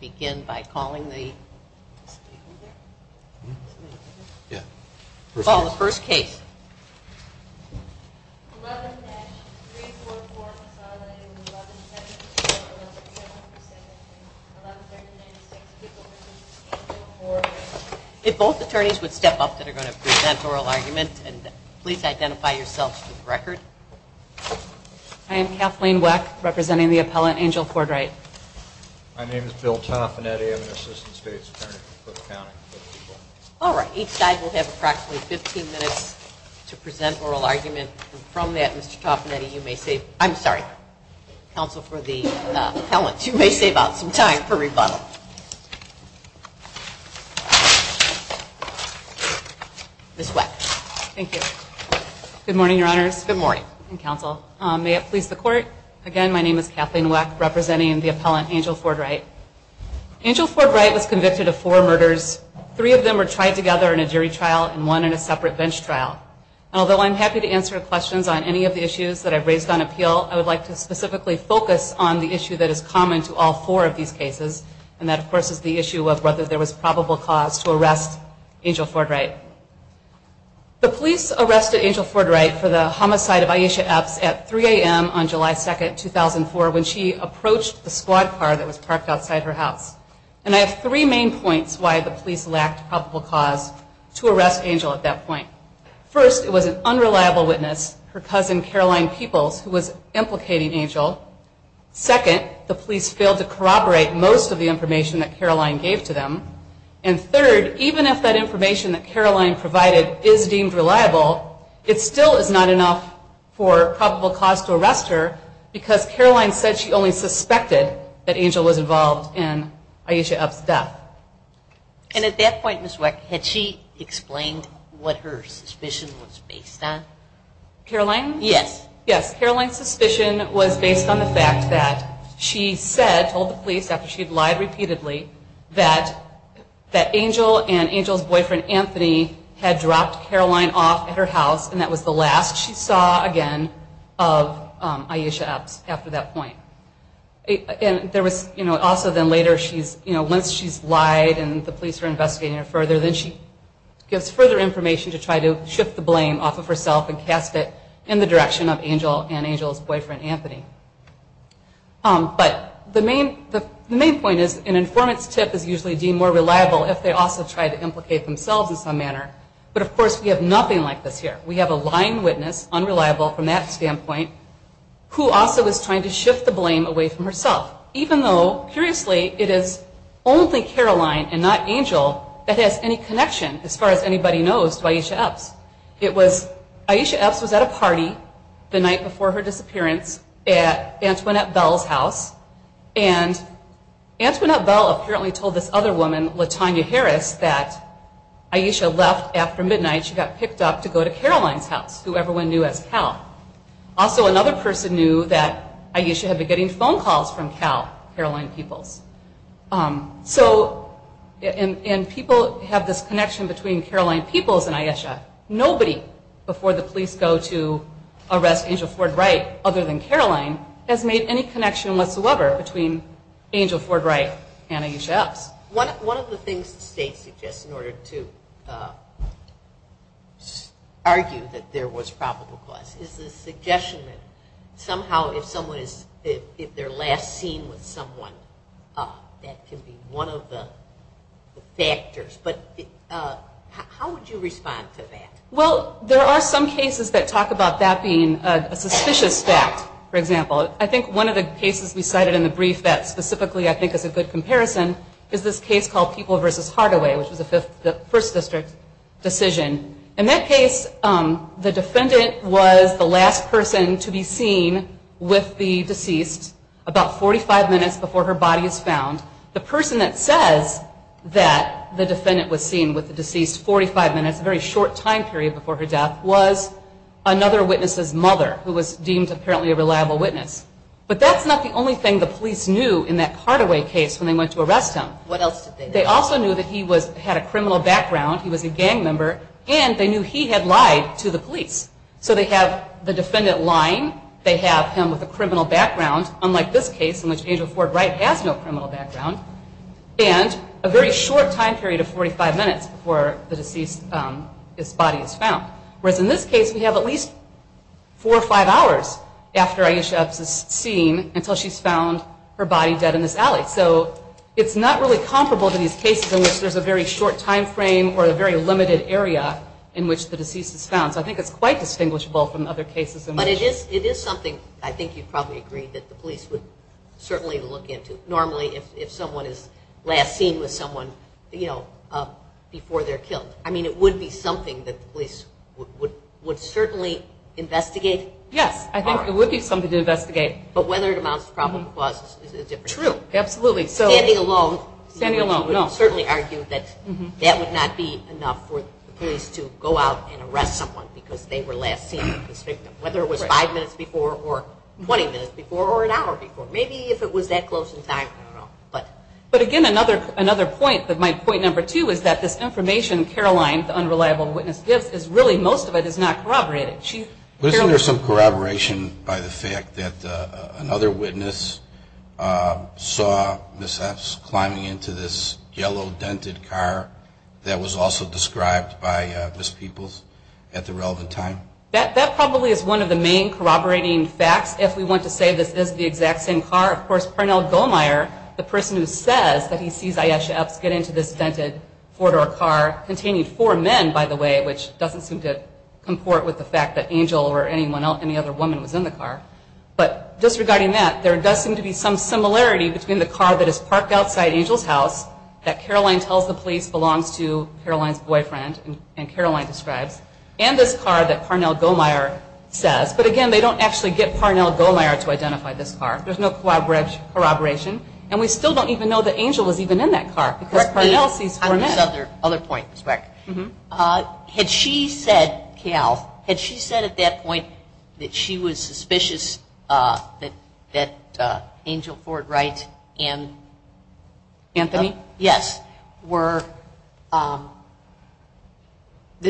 begin by calling the first case. If both attorneys would step up that are going to present oral argument and please identify yourself for the record. I am Kathleen Weck representing the appellant, Angel Ford-Wright. My name is Bill Toffinetti. I am an assistant state attorney for Cook County. All right. Each side will have approximately 15 minutes to present oral argument. And from that, Mr. Toffinetti, you may save, I'm sorry, counsel for the appellant, you may save out some time for rebuttal. Ms. Weck. Thank you. Good morning, I'm Kathleen Weck representing the appellant, Angel Ford-Wright. Angel Ford-Wright was convicted of four murders. Three of them were tried together in a jury trial and one in a separate bench trial. And although I'm happy to answer questions on any of the issues that I've raised on appeal, I would like to specifically focus on the issue that is common to all four of these cases. And that, of course, is the issue of whether there was probable cause to arrest Angel Ford-Wright. The police arrested Angel Ford-Wright for the homicide of Aisha Epps at 3 a.m. on July 2nd, 2004 when she approached the squad car that was parked outside her house. And I have three main points why the police lacked probable cause to arrest Angel at that point. First, it was an unreliable witness, her cousin Caroline Peoples, who was implicating Angel. Second, the police failed to corroborate most of the information that Caroline gave to them. And third, even if that information that Caroline provided is deemed reliable, it still is not enough for probable cause to arrest her because Caroline said she only suspected that Angel was involved in Aisha Epps' death. And at that point, Ms. Weck, had she explained what her suspicion was based on? Caroline? Yes. Yes, Caroline's suspicion was based on the fact that she said, told the police after she had lied repeatedly, that Angel and Angel's boyfriend, Anthony, had dropped Caroline off at her house and that was the last she saw, again, of Aisha Epps after that point. And there was, you know, also then later she's, you know, once she's lied and the police are investigating her further, then she gives further information to try to shift the blame off of herself and cast it in the direction of Angel and Angel's boyfriend, Anthony. But the main point is an informant's tip is usually deemed more reliable if they also try to implicate themselves in some manner. But of course, we have nothing like this here. We have a lying witness, unreliable from that standpoint, who also is trying to shift the blame away from herself, even though, curiously, it is only Caroline and not Angel that has any connection, as far as anybody knows, to Aisha Epps. It was, Aisha Epps was at a party the night before her disappearance at Antoinette Bell's house and Antoinette Bell apparently told this other woman, Latonya Harris, that Aisha left after midnight, she got picked up to go to Caroline's house, who everyone knew as Cal. Also, another person knew that Aisha had been getting phone calls from Cal, Caroline Peoples and Aisha. Nobody before the police go to arrest Angel Ford Wright, other than Caroline, has made any connection whatsoever between Angel Ford Wright and Aisha Epps. One of the things the state suggests in order to argue that there was probable cause is the suggestion that somehow if someone is, if they're last seen with someone, that can be one of the factors. But how would you respond to that? Well, there are some cases that talk about that being a suspicious fact, for example. I think one of the cases we cited in the brief that specifically I think is a good comparison is this case called Peoples v. Hardaway, which was a First District decision. In that case, the defendant was the last person to be seen with the deceased about 45 minutes before her body is found. The person that says that the defendant was seen with the deceased 45 minutes, a very short time period before her death, was another witness's mother, who was deemed apparently a reliable witness. But that's not the only thing the police knew in that Hardaway case when they went to arrest him. They also knew that he had a criminal background, he was a gang member, and they knew he had lied to the police. So they have the defendant lying, they have him with a criminal background, unlike this case in which Angel Ford Wright has no criminal background, and a very short time period of 45 minutes before the deceased's body is found. Whereas in this case, we have at least four or five hours after Ayesha Epps is seen until she's found her body dead in this alley. So it's not really comparable to these cases in which there's a very short time frame or a very limited area in which the deceased is found. So I think it's quite distinguishable from other cases in which- It's something to look into. Normally if someone is last seen with someone before they're killed. I mean it would be something that the police would certainly investigate. Yes, I think it would be something to investigate. But whether it amounts to probable cause is a different issue. True. Absolutely. Standing alone- Standing alone, no. I would certainly argue that that would not be enough for the police to go out and arrest someone because they were last seen with the victim. Whether it was five minutes before or 20 minutes before or an hour before. Maybe if it was that close in time, I don't know. But again, another point, my point number two is that this information Caroline, the unreliable witness, gives is really most of it is not corroborated. Isn't there some corroboration by the fact that another witness saw Ms. Epps climbing into this yellow dented car that was also described by Ms. Peoples at the relevant time? That probably is one of the main corroborating facts if we want to say this is the exact same car. Of course, Parnell Goldmeier, the person who says that he sees Ayesha Epps get into this dented four-door car containing four men, by the way, which doesn't seem to comport with the fact that Angel or any other woman was in the car. But disregarding that, there does seem to be some similarity between the car that is parked outside Angel's house that Caroline tells the police belongs to Caroline's boyfriend and Caroline describes, and this car that Parnell Goldmeier says. But again, they don't actually get Parnell Goldmeier to identify this car. There's no corroboration. And we still don't even know that Angel was even in that car because Parnell sees four men. Other point, Ms. Weck. Had she said, Cal, had she said at that point that she was suspicious that Angel Ford Wright and Anthony, yes, were, that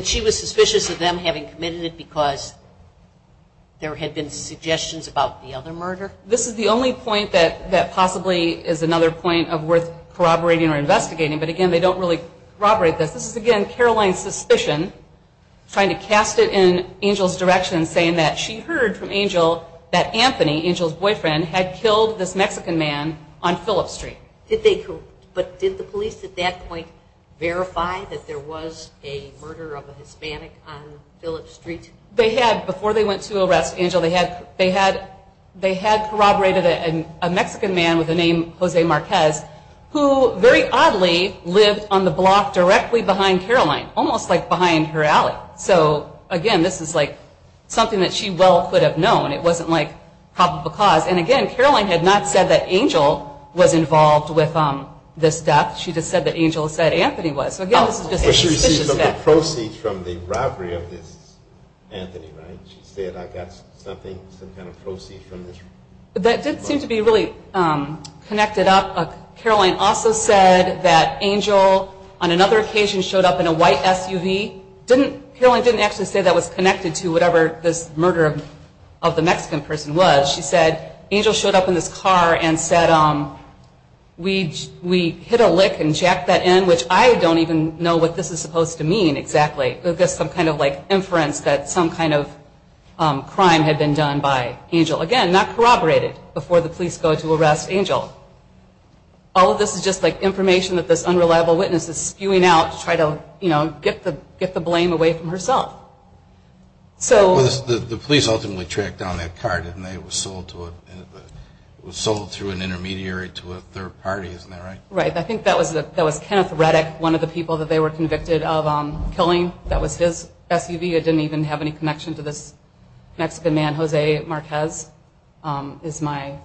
she was suspicious of them having committed it because there had been suggestions about the other murder? This is the only point that possibly is another point of worth corroborating or investigating. But again, they don't really corroborate this. This is, again, Caroline's suspicion, trying to cast it in Angel's direction, saying that she heard from Angel that Anthony, Angel's boyfriend, had killed this Mexican man on Phillips Street. Did they, but did the police at that point verify that there was a murder of a Hispanic on Phillips Street? They had, before they went to arrest Angel, they had corroborated a Mexican man with the name Jose Marquez, who very oddly lived on the block directly behind Caroline, almost like behind her alley. So again, this is like something that she well could have known. It wasn't like hop of a cause. And again, Caroline had not said that Angel was involved with this death. She just said that Angel said Anthony was. So again, this is just a suspicious fact. But she received some proceeds from the robbery of this Anthony, right? She said, I got something, some kind of proceeds from this. That did seem to be really connected up. Caroline also said that Angel, on another occasion, showed up in a white SUV. Caroline didn't actually say that was connected to whatever this murder of the Mexican person was. She said, Angel showed up in this car and said, we hit a lick and jacked that in, which I don't even know what this is supposed to mean exactly. It's just some kind of inference that some kind of crime had been done by Angel. Again, not corroborated before the police go to arrest Angel. All of this is just like information that this unreliable witness is spewing out to try to get the blame away from herself. So the police ultimately tracked down that car, didn't they? It was sold through an intermediary to a third party, isn't that right? Right. I think that was Kenneth Reddick, one of the people that they were convicted of killing. That was his SUV. I didn't even have any connection to this Mexican man, Jose Marquez, is my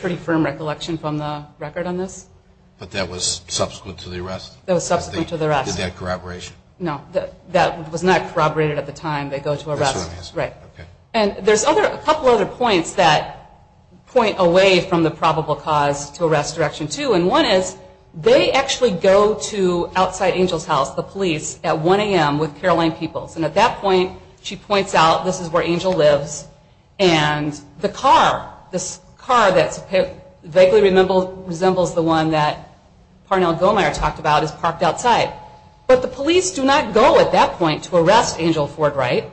pretty firm recollection from the record on this. But that was subsequent to the arrest? That was subsequent to the arrest. Did they have corroboration? No, that was not corroborated at the time they go to arrest. Right. And there's a couple other points that point away from the probable cause to arrest direction two. And one is, they actually go to outside Angel's house, the police, at 1 AM with Caroline Peoples. And at that point, she points out, this is where Angel lives. And the car, this car that vaguely resembles the one that Parnell Gohmeyer talked about, is parked outside. But the police do not go at that point to arrest Angel Ford Wright.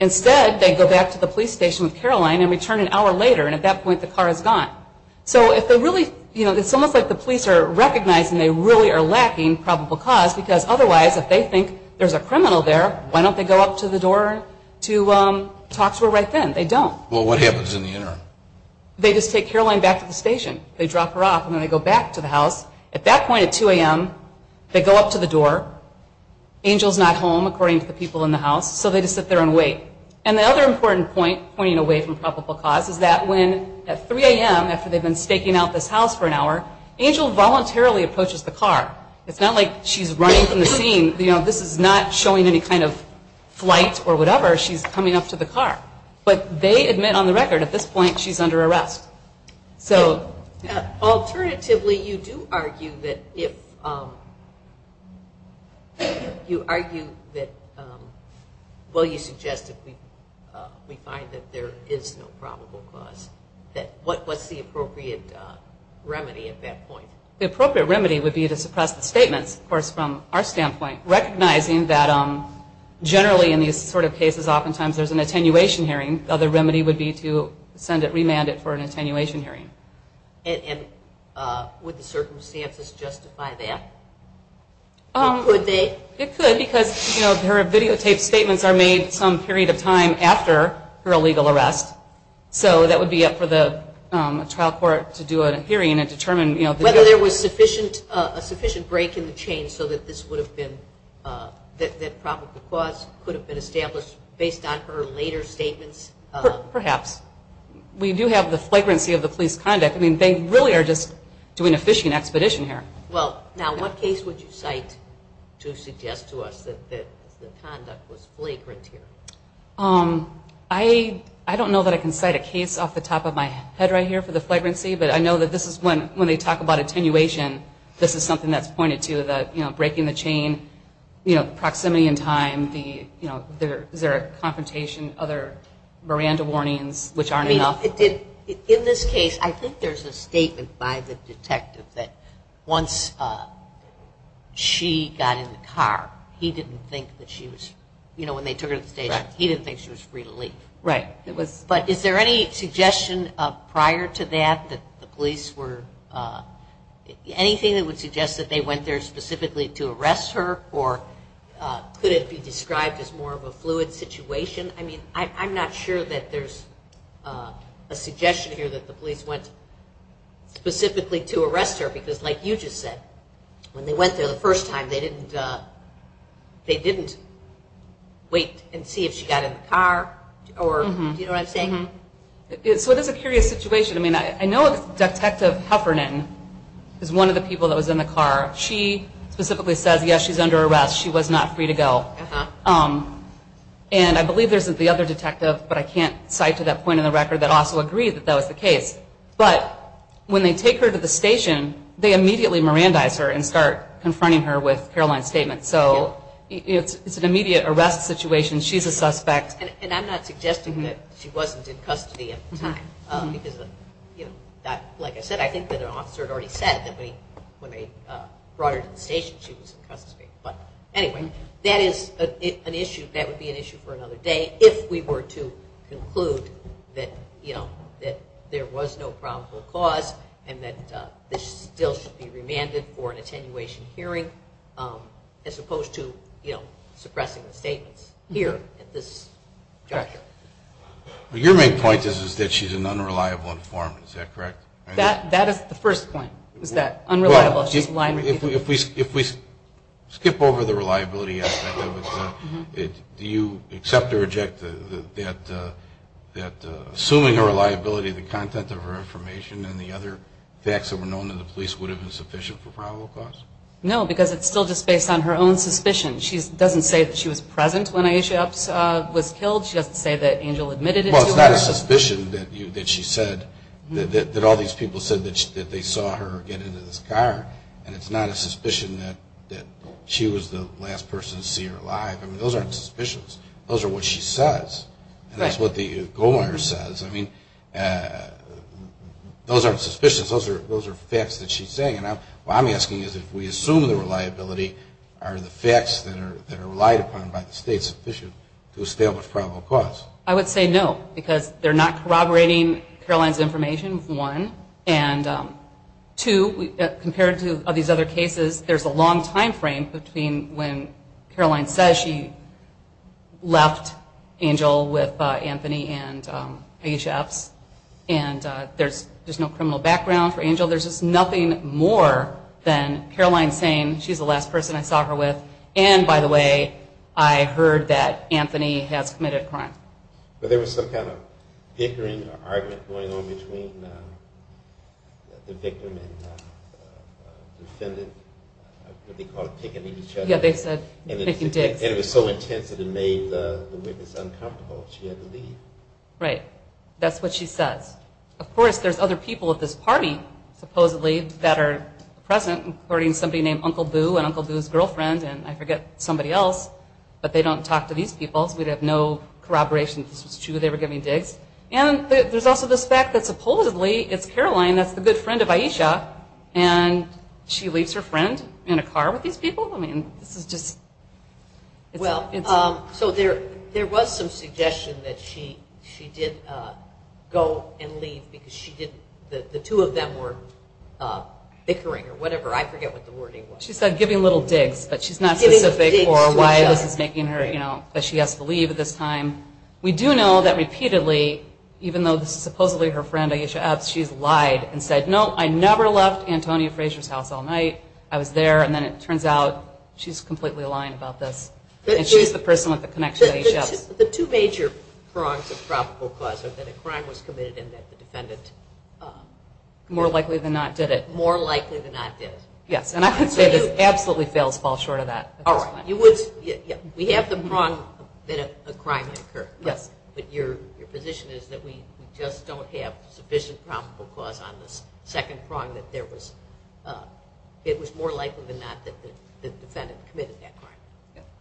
Instead, they go back to the police station with Caroline and return an hour later. And at that point, the car is gone. So it's almost like the police are recognizing they really are lacking probable cause. Because otherwise, if they think there's a criminal there, why don't they go up to the door to talk to her right then? They don't. Well, what happens in the interim? They just take Caroline back to the station. They drop her off, and then they go back to the house. At that point, at 2 AM, they go up to the door. Angel's not home, according to the people in the house, so they just sit there and wait. And the other important point, pointing away from probable cause, is that when at 3 AM, after they've been staking out this house for an hour, Angel voluntarily approaches the car. It's not like she's running from the scene. You know, this is not showing any kind of flight or whatever. She's coming up to the car. But they admit on the record, at this point, she's under arrest. So. Alternatively, you do argue that if, you argue that, well, you suggest that we find that there is no probable cause. That, what's the appropriate remedy at that point? The appropriate remedy would be to suppress the statements, of course, from our standpoint. Recognizing that generally in these sort of cases, oftentimes there's an attenuation hearing. The other remedy would be to send it, remand it for an attenuation hearing. And would the circumstances justify that? Or could they? It could, because her videotaped statements are made some period of time after her illegal arrest. So that would be up for the trial court to do a hearing and determine, you know. Whether there was sufficient, a sufficient break in the chain so that this would have been, that probable cause could have been established based on her later statements. Perhaps. We do have the flagrancy of the police conduct. I mean, they really are just doing a fishing expedition here. Well, now, what case would you cite to suggest to us that the conduct was flagrant here? I don't know that I can cite a case off the top of my head right here for the flagrancy. But I know that this is when they talk about attenuation, this is something that's pointed to. The, you know, breaking the chain. You know, proximity in time. The, you know, is there a confrontation, other Miranda warnings, which aren't enough. It did, in this case, I think there's a statement by the detective that once she got in the car, he didn't think that she was, you know, when they took her to the station, he didn't think she was free to leave. Right, it was. But is there any suggestion prior to that that the police were, anything that would suggest that they went there specifically to arrest her? Or could it be described as more of a fluid situation? I mean, I'm not sure that there's a suggestion here that the police went specifically to arrest her. Because like you just said, when they went there the first time, they didn't, they didn't wait and see if she got in the car. Do you know what I'm saying? So it is a curious situation. I mean, I know Detective Heffernan is one of the people that was in the car. She specifically says, yes, she's under arrest. She was not free to go. And I believe there's the other detective, but I can't cite to that point in the record, that also agreed that that was the case. But when they take her to the station, they immediately Mirandize her and start confronting her with Caroline's statement. So it's an immediate arrest situation. She's a suspect. And I'm not suggesting that she wasn't in custody at the time. Because, you know, like I said, I think that an officer had already said that when they brought her to the station, she was in custody. But anyway, that is an issue. That would be an issue for another day if we were to conclude that, you know, that there was no probable cause. And that this still should be remanded for an attenuation hearing, as opposed to, you know, suppressing the statements. Here, at this juncture. Your main point is that she's an unreliable informant, is that correct? That is the first point, is that unreliable. If we skip over the reliability aspect of it, do you accept or reject that assuming her reliability, the content of her information, and the other facts that were known to the police would have been sufficient for probable cause? No, because it's still just based on her own suspicion. She doesn't say that she was present when Aisha was killed. She doesn't say that Angel admitted it. Well, it's not a suspicion that she said, that all these people said that they saw her get into this car. And it's not a suspicion that she was the last person to see her alive. I mean, those aren't suspicions. Those are what she says. And that's what the gold miner says. I mean, those aren't suspicions. Those are facts that she's saying. What I'm asking is, if we assume the reliability, are the facts that are relied upon by the state sufficient to establish probable cause? I would say no, because they're not corroborating Caroline's information, one. And two, compared to these other cases, there's a long time frame between when Caroline says she left Angel with Anthony and HFs. And there's no criminal background for Angel. There's just nothing more than Caroline saying, she's the last person I saw her with. And by the way, I heard that Anthony has committed a crime. But there was some kind of bickering or argument going on between the victim and the defendant, what do they call it, picking at each other? Yeah, they said, picking dicks. And it was so intense that it made the witness uncomfortable. She had to leave. Right. That's what she says. Of course, there's other people at this party, supposedly, that are present, including somebody named Uncle Boo, and Uncle Boo's girlfriend. And I forget somebody else. But they don't talk to these people, so we'd have no corroboration if this was true, they were giving dicks. And there's also this fact that supposedly it's Caroline that's the good friend of Aisha, and she leaves her friend in a car with these people? I mean, this is just, it's a- So there was some suggestion that she did go and leave, because the two of them were bickering or whatever. I forget what the wording was. She said giving little dicks, but she's not specific for why this is making her, that she has to leave at this time. We do know that repeatedly, even though this is supposedly her friend, Aisha Epps, she's lied and said, no, I never left Antonia Frazier's house all night. I was there, and then it turns out she's completely lying about this. And she's the person with the connection to Aisha Epps. The two major prongs of probable cause are that a crime was committed and that the defendant- More likely than not did it. More likely than not did it. Yes, and I would say this absolutely fails to fall short of that. All right. We have the prong that a crime had occurred. Yes. But your position is that we just don't have sufficient probable cause on the second prong that there was, it was more likely than not that the defendant committed that crime.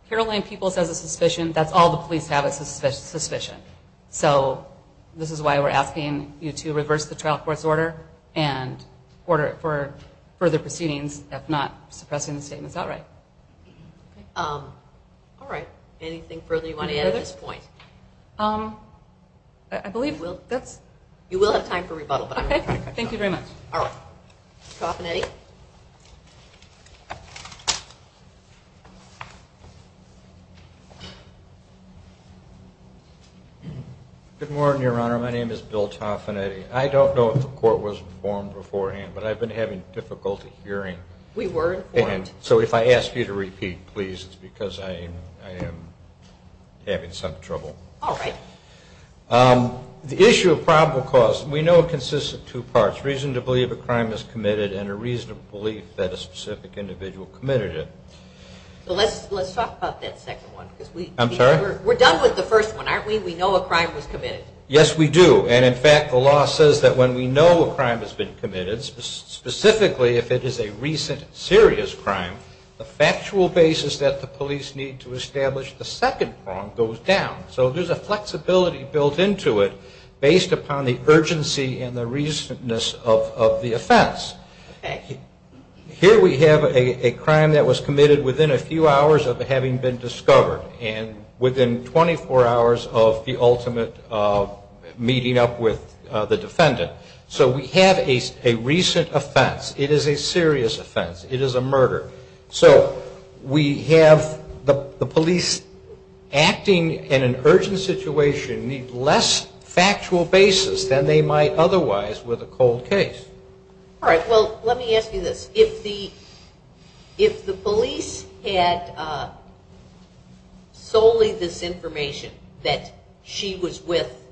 Caroline Peoples has a suspicion. That's all the police have is a suspicion. So this is why we're asking you to reverse the trial court's order and order it for further proceedings, if not suppressing the statements outright. All right. Anything further you want to add at this point? I believe that's- You will have time for rebuttal. Okay. Thank you very much. All right. Toffanetti? Good morning, Your Honor. My name is Bill Toffanetti. I don't know if the court was informed beforehand, but I've been having difficulty hearing. We were informed. So if I ask you to repeat, please, it's because I am having some trouble. All right. The issue of probable cause, we know it consists of two parts. Reason to believe a crime is committed and a reason to believe that a specific individual committed it. Let's talk about that second one. I'm sorry? We're done with the first one, aren't we? We know a crime was committed. Yes, we do. And in fact, the law says that when we know a crime has been committed, specifically if it is a recent serious crime, the factual basis that the police need to establish the second prong goes down. So there's a flexibility built into it based upon the urgency and the reasonness of the offense. Here we have a crime that was committed within a few hours of having been discovered and within 24 hours of the ultimate meeting up with the defendant. So we have a recent offense. It is a serious offense. It is a murder. So we have the police acting in an urgent situation need less factual basis than they might otherwise with a cold case. All right, well, let me ask you this. If the police had solely this information that she was with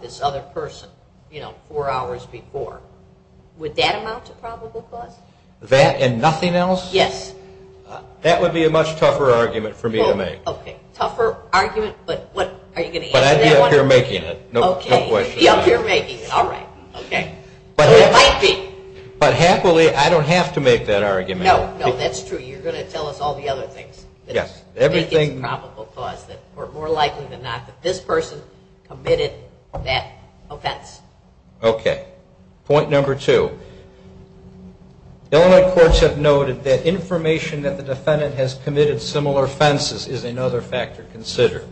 this other person, you know, four hours before, would that amount to probable cause? That and nothing else? Yes. That would be a much tougher argument for me to make. OK, tougher argument, but what? Are you going to answer that one? But I'd be up here making it, no question about it. OK, you'd be up here making it, all right, OK. It might be. But happily, I don't have to make that argument. No, no, that's true. You're going to tell us all the other things that make it probable cause that we're more likely than not that this person committed that offense. OK, point number two. Illinois courts have noted that information that the defendant has committed similar offenses is another factor to consider.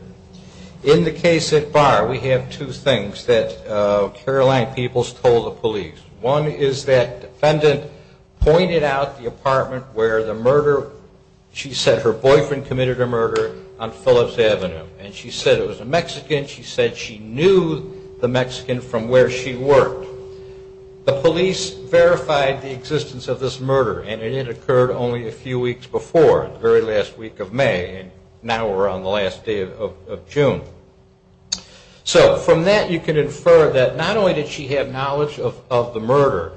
In the case at Barr, we have two things that Caroline Peoples told the police. One is that defendant pointed out the apartment where the murder, she said her boyfriend committed a murder on Phillips Avenue. And she said it was a Mexican. She said she knew the Mexican from where she worked. The police verified the existence of this murder, and it had occurred only a few weeks before, the very last week of May. And now we're on the last day of June. So from that, you can infer that not only did she have knowledge of the murder,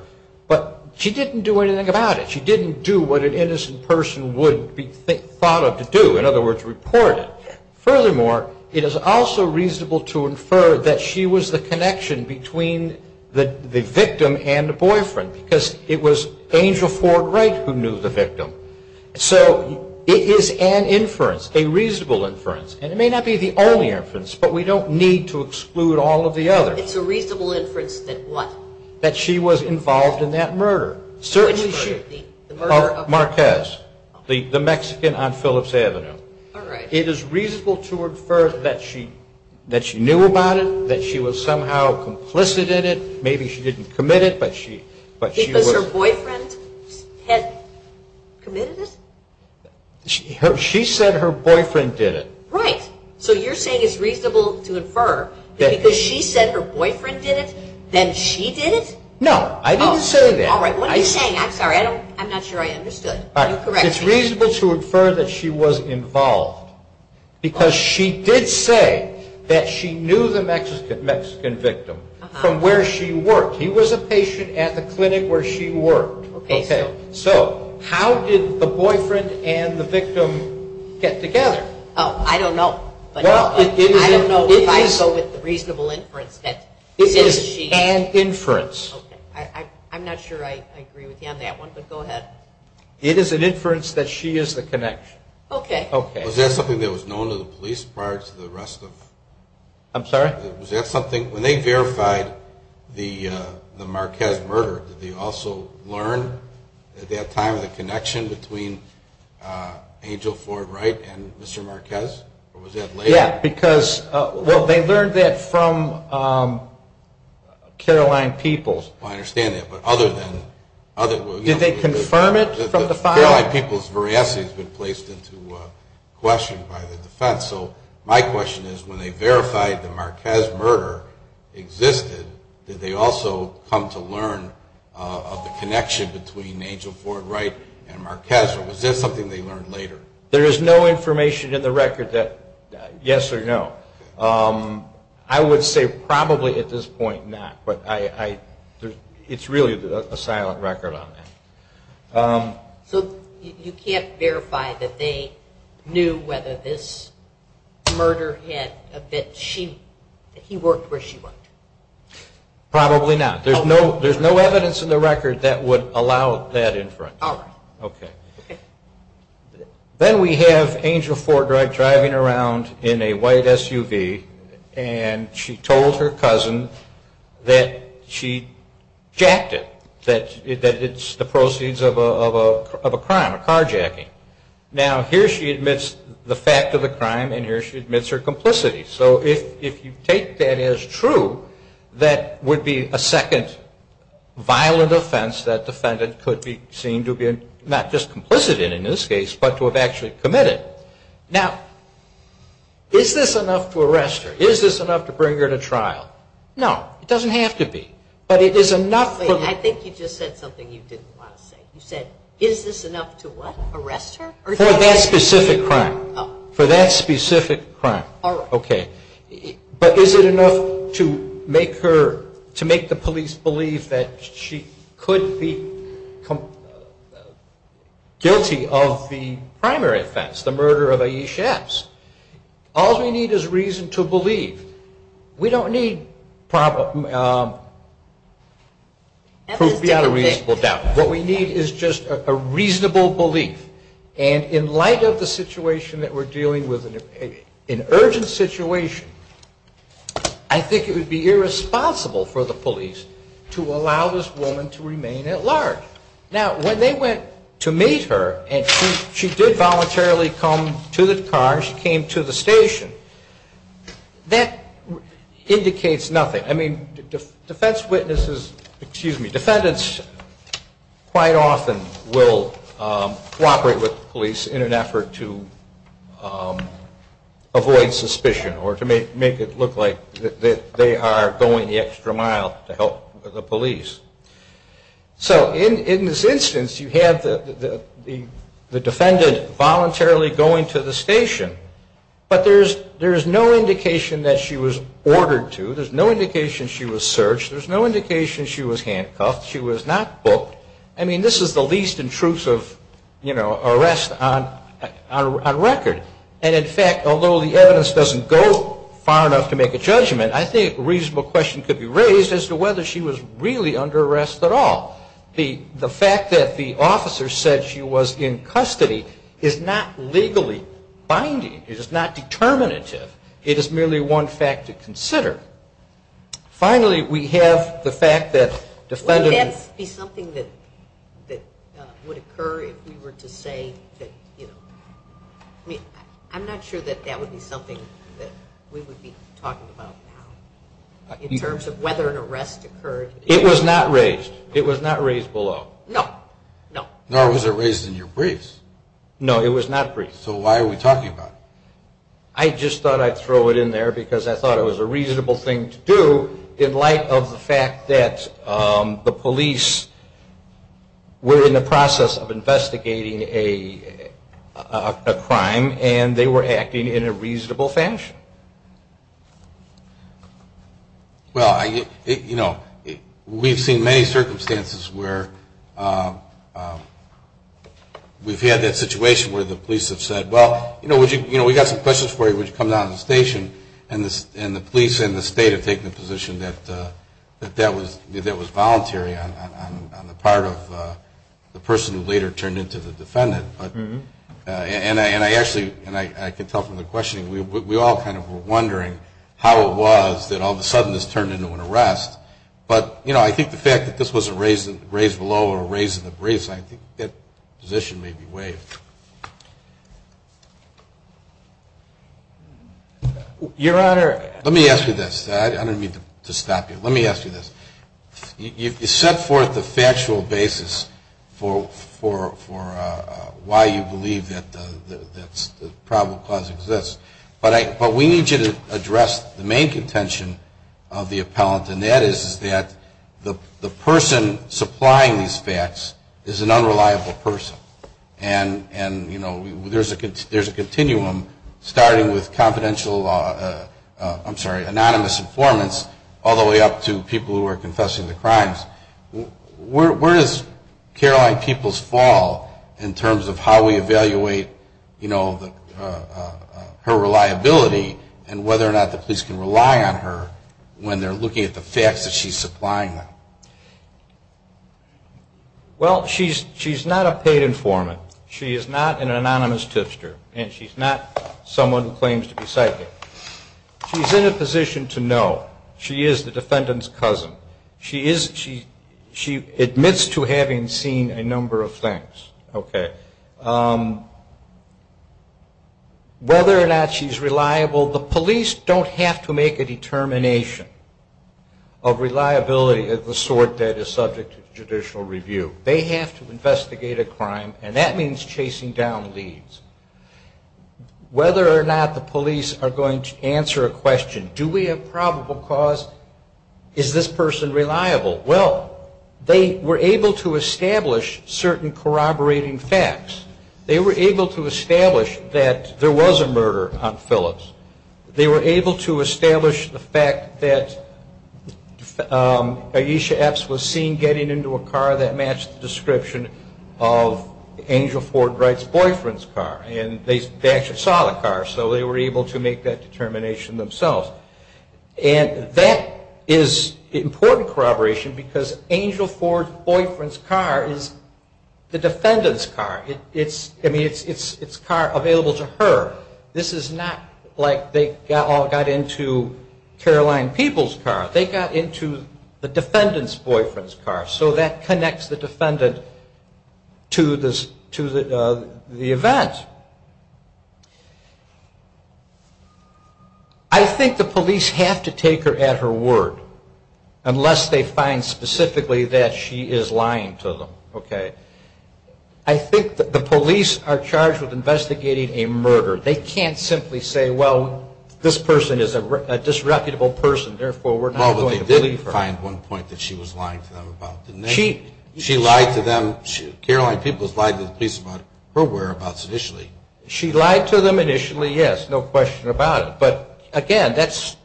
but she didn't do anything about it. She didn't do what an innocent person would be thought of to do, in other words, report it. Furthermore, it is also reasonable to infer that she was the connection between the victim and the boyfriend, because it was Angel Ford Wright who knew the victim. So it is an inference, a reasonable inference. And it may not be the only inference, but we don't need to exclude all of the others. It's a reasonable inference that what? That she was involved in that murder. Certainly should be, the murder of Marquez, the Mexican on Phillips Avenue. All right. It is reasonable to infer that she knew about it, that she was somehow complicit in it. Maybe she didn't commit it, but she was. Because her boyfriend had committed it? She said her boyfriend did it. Right. So you're saying it's reasonable to infer that because she said her boyfriend did it, then she did it? No, I didn't say that. All right, what are you saying? I'm sorry, I'm not sure I understood. You correct me. It's reasonable to infer that she was involved, because she did say that she knew the Mexican victim from where she worked. He was a patient at the clinic where she worked. OK, so how did the boyfriend and the victim get together? Oh, I don't know, but I don't know if I go with the reasonable inference that it is she. It is an inference. I'm not sure I agree with you on that one, but go ahead. It is an inference that she is the connection. OK. OK. Was that something that was known to the police prior to the arrest of? I'm sorry? Was that something, when they verified the Marquez murder, did they also learn at that time the connection between Angel Ford Wright and Mr. Marquez? Or was that later? Yeah, because, well, they learned that from Caroline Peeples. I understand that, but other than? Did they confirm it from the file? Caroline Peeples' veracity has been placed into question by the defense. So my question is, when they verified the Marquez murder existed, did they also come to learn of the connection between Angel Ford Wright and Marquez? Or was that something they learned later? There is no information in the record that, yes or no. I would say probably at this point, not. But it's really a silent record on that. So you can't verify that they knew whether this murder had a bit, that he worked where she worked? Probably not. There's no evidence in the record that would allow that inference. All right. OK. Then we have Angel Ford Wright driving around in a white SUV, and she told her cousin that she jacked it, that it's the proceeds of a crime, a carjacking. Now, here she admits the fact of the crime, and here she admits her complicity. So if you take that as true, that would be a second violent offense that defendant could be seen to be not just complicit in, in this case, but to have actually committed. Now, is this enough to arrest her? Is this enough to bring her to trial? No. It doesn't have to be. But it is enough for me. I think you just said something you didn't want to say. You said, is this enough to, what, arrest her? For that specific crime. For that specific crime. All right. OK. But is it enough to make her, to make the police believe that she could be guilty of the primary offense, the murder of Ayesha Epps? All we need is reason to believe. We don't need proof beyond a reasonable doubt. What we need is just a reasonable belief. And in light of the situation that we're dealing with, an urgent situation, I think it would be irresponsible for the police to allow this woman to remain at large. Now, when they went to meet her, and she did voluntarily come to the car, she came to the station, that indicates nothing. I mean, defense witnesses, excuse me, defendants quite often will cooperate with the police in an effort to avoid suspicion, or to make it look like that they are going the extra mile to help the police. So in this instance, you have the defendant voluntarily going to the station, but there is no indication that she was ordered to. There's no indication she was searched. There's no indication she was handcuffed. She was not booked. I mean, this is the least intrusive arrest on record. And in fact, although the evidence doesn't go far enough to make a judgment, I think a reasonable question could be raised as to whether she was really under arrest at all. The fact that the officer said she was in custody is not legally binding. It is not determinative. It is merely one fact to consider. Finally, we have the fact that defendants... Would that be something that would occur if we were to say that, you know, I mean, I'm not sure that that would be something that we would be talking about now, in terms of whether an arrest occurred. It was not raised. It was not raised below. No, no. Nor was it raised in your briefs. No, it was not briefed. So why are we talking about it? I just thought I'd throw it in there because I thought it was a reasonable thing to do in light of the fact that the police were in the process of investigating a crime and they were acting in a reasonable fashion. Well, you know, we've seen many circumstances where we've had that situation where the police have said, well, you know, we've got some questions for you, would you come down to the station, and the police and the state have taken the position that that was voluntary on the part of the person who later turned into the defendant. And I actually, and I can tell from the questioning, we all kind of were wondering how it was that all of a sudden this turned into an arrest. But, you know, I think the fact that this wasn't raised below or raised in the briefs, I think that position may be waived. Your Honor... Let me ask you this. I don't mean to stop you. Let me ask you this. You set forth the factual basis for why you believe that the probable cause exists. But we need you to address the main contention of the appellant, and that is that the person supplying these facts is an unreliable person. And, you know, there's a continuum, starting with confidential, I'm sorry, anonymous informants, all the way up to people who are confessing the crimes. Where does Caroline Peeples fall in terms of how we evaluate, you know, her reliability and whether or not the police can rely on her when they're looking at the facts that she's supplying them? Well, she's not a paid informant. She is not an anonymous tipster, and she's not someone who claims to be psychic. She's in a position to know. She is the defendant's cousin. She admits to having seen a number of things, okay? Whether or not she's reliable, the police don't have to make a determination of reliability of the sort that is subject to judicial review. They have to investigate a crime, and that means chasing down leads. Whether or not the police are going to answer a question, do we have probable cause, is this person reliable? Well, they were able to establish certain corroborating facts. They were able to establish that there was a murder on Phillips. They were able to establish the fact that Ayesha Epps was seen getting into a car that matched the description of Angel Ford Wright's boyfriend's car. And they actually saw the car, so they were able to make that determination themselves. And that is important corroboration, because Angel Ford's boyfriend's car is the defendant's car. It's, I mean, it's a car available to her. This is not like they all got into Caroline Peeble's car. They got into the defendant's boyfriend's car, so that connects the defendant to the event. I think the police have to take her at her word, unless they find specifically that she is lying to them, okay? I think that the police are charged with investigating a murder. They can't simply say, well, this person is a disreputable person, therefore we're not going to believe her. Well, but they did find one point that she was lying to them about, didn't they? She lied to them. Caroline Peeble has lied to the police about her whereabouts initially. She lied to them initially, yes, no question about it. But, again, that's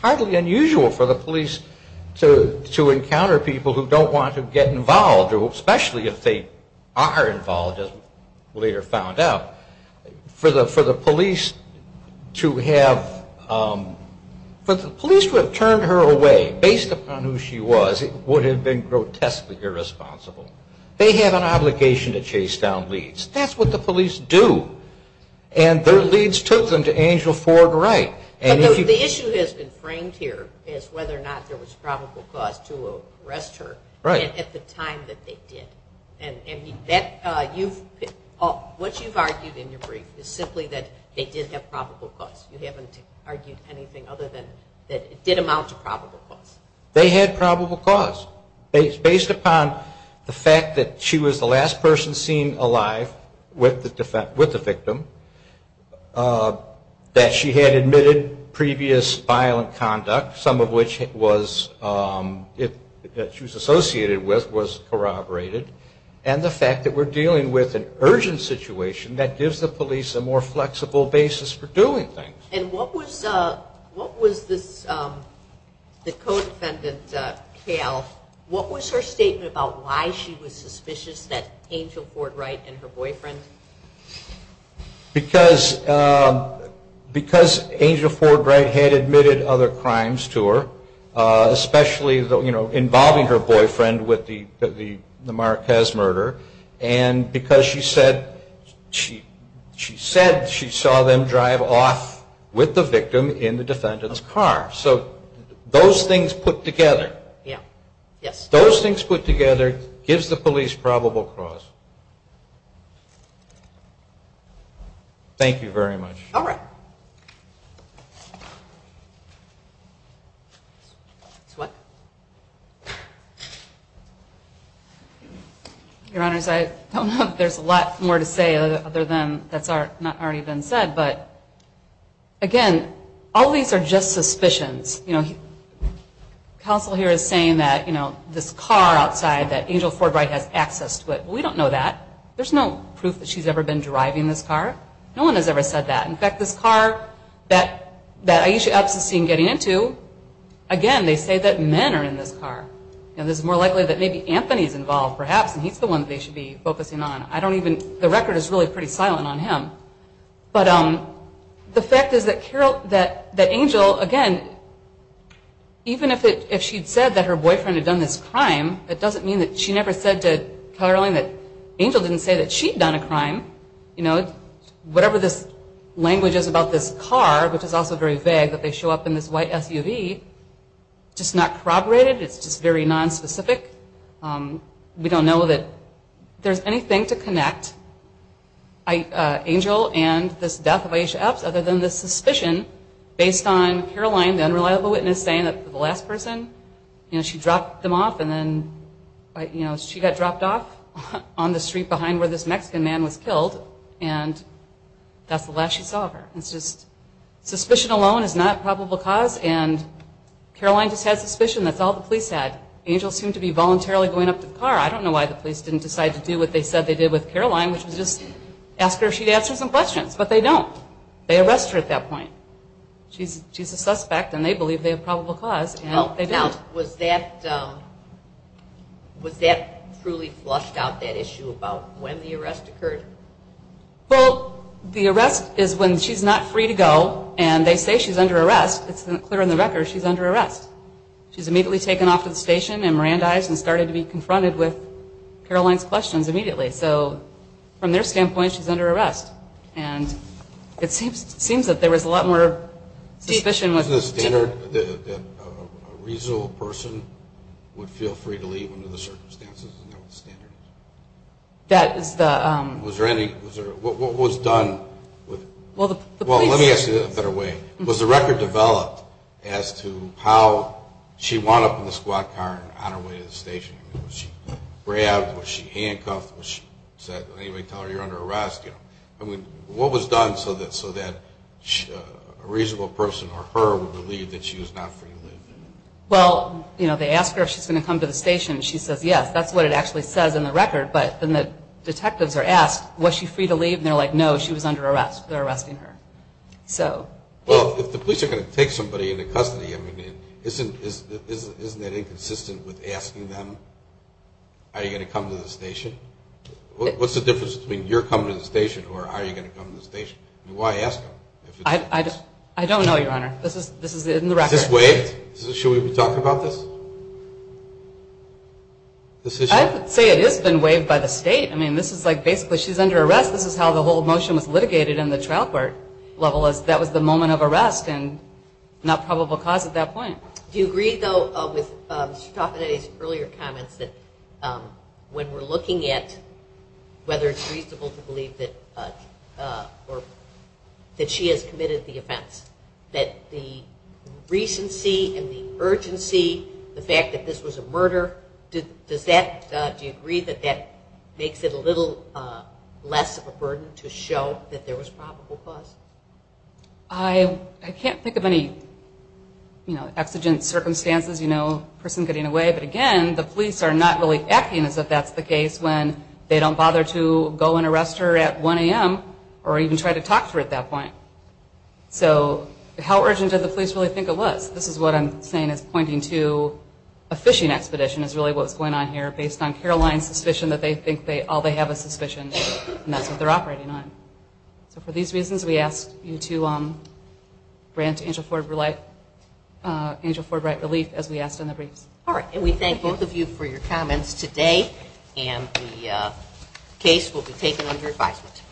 hardly unusual for the police to encounter people who don't want to get involved, especially if they are involved, as we later found out. For the police to have, for the police to have turned her away based upon who she was, it would have been grotesquely irresponsible. They have an obligation to chase down leads. That's what the police do. And their leads took them to Angel Ford Wright. But the issue has been framed here as whether or not there was probable cause to arrest her at the time that they did. And that, you've, what you've argued in your brief is simply that they did have probable cause. You haven't argued anything other than that it did amount to probable cause. They had probable cause. Based upon the fact that she was the last person seen alive with the victim, that she had admitted previous violent conduct, some of which was, that she was associated with, was corroborated, and the fact that we're dealing with an urgent situation that gives the police a more flexible basis for doing things. And what was, what was this, the co-defendant, Kayle, what was her statement about why she was suspicious that Angel Ford Wright and her boyfriend? Because, because Angel Ford Wright had admitted other crimes to her, especially, you know, involving her boyfriend with the Marquez murder, and because she said, she said she saw them drive off with the victim in the defendant's car. So those things put together. Yeah, yes. Those things put together gives the police probable cause. Thank you very much. All right. What? Your Honors, I don't know if there's a lot more to say other than that's not already been said, but again, all these are just suspicions. You know, counsel here is saying that, you know, this car outside that Angel Ford Wright has access to it. We don't know that. There's no proof that she's ever been driving this car. No one has ever said that. In fact, this car that, that Aisha Epps is seen getting into, again, they say that men are in this car. And this is more likely that maybe Anthony is involved, perhaps, and he's the one they should be focusing on. I don't even, the record is really pretty silent on him. But the fact is that Carol, that Angel, again, even if she'd said that her boyfriend had done this crime, it doesn't mean that she never said to Caroline that Angel didn't say that she'd done a crime. You know, whatever this language is about this car, which is also very vague, that they show up in this white SUV, just not corroborated, it's just very nonspecific. We don't know that there's anything to connect Angel and this death of Aisha Epps other than this suspicion based on Caroline, the unreliable witness, saying that the last person, you know, she dropped them off and then, you know, she got dropped off on the street behind where this Mexican man was killed and that's the last she saw of her. It's just suspicion alone is not probable cause and Caroline just had suspicion, that's all the police had. Angel seemed to be voluntarily going up to the car. I don't know why the police didn't decide to do what they said they did with Caroline, which was just ask her if she'd answer some questions, but they don't. They arrest her at that point. She's a suspect and they believe they have probable cause and they don't. Now, was that truly flushed out, that issue about when the arrest occurred? Well, the arrest is when she's not free to go and they say she's under arrest. It's clear in the record she's under arrest. She's immediately taken off to the station and Mirandized and started to be confronted with Caroline's questions immediately. So, from their standpoint, she's under arrest and it seems that there was a lot more suspicion. Was the standard that a reasonable person would feel free to leave under the circumstances and that was the standard? That is the... Was there any... What was done... Well, the police... Well, let me ask you this a better way. Was the record developed as to how she wound up in the squad car on her way to the station? Was she grabbed? Was she handcuffed? Did anybody tell her you're under arrest? What was done so that a reasonable person or her would believe that she was not free to leave? Well, they ask her if she's going to come to the station and she says yes. That's what it actually says in the record, but then the detectives are asked, was she free to leave? And they're like, no, she was under arrest. They're arresting her. So... Well, if the police are going to take somebody into custody, isn't that inconsistent with asking them, are you going to come to the station? What's the difference between you're coming to the station or are you going to come to the station? Why ask them? I don't know, Your Honor. This is in the record. Is this waived? Should we be talking about this? I would say it has been waived by the state. I mean, this is like basically she's under arrest. This is how the whole motion was litigated in the trial court level. That was the moment of arrest and not probable cause at that point. Do you agree, though, with Mr. Taffanetti's earlier comments that when we're looking at whether it's reasonable to believe that she has committed the offense, that the recency and the urgency, the fact that this was a murder, do you agree that that makes it a little less of a burden to show that there was probable cause? I can't think of any, you know, exigent circumstances, you know, person getting away. But again, the police are not really acting as if that's the case when they don't bother to go and arrest her at 1 a.m. or even try to talk to her at that point. So how urgent did the police really think it was? This is what I'm saying is pointing to a fishing expedition is really what's going on here based on Caroline's suspicion that they think all they have is suspicion, and that's what they're operating on. So for these reasons, we ask you to grant Angel Ford Wright relief, as we asked in the briefs. All right, and we thank both of you for your comments today, and the case will be taken under advisement.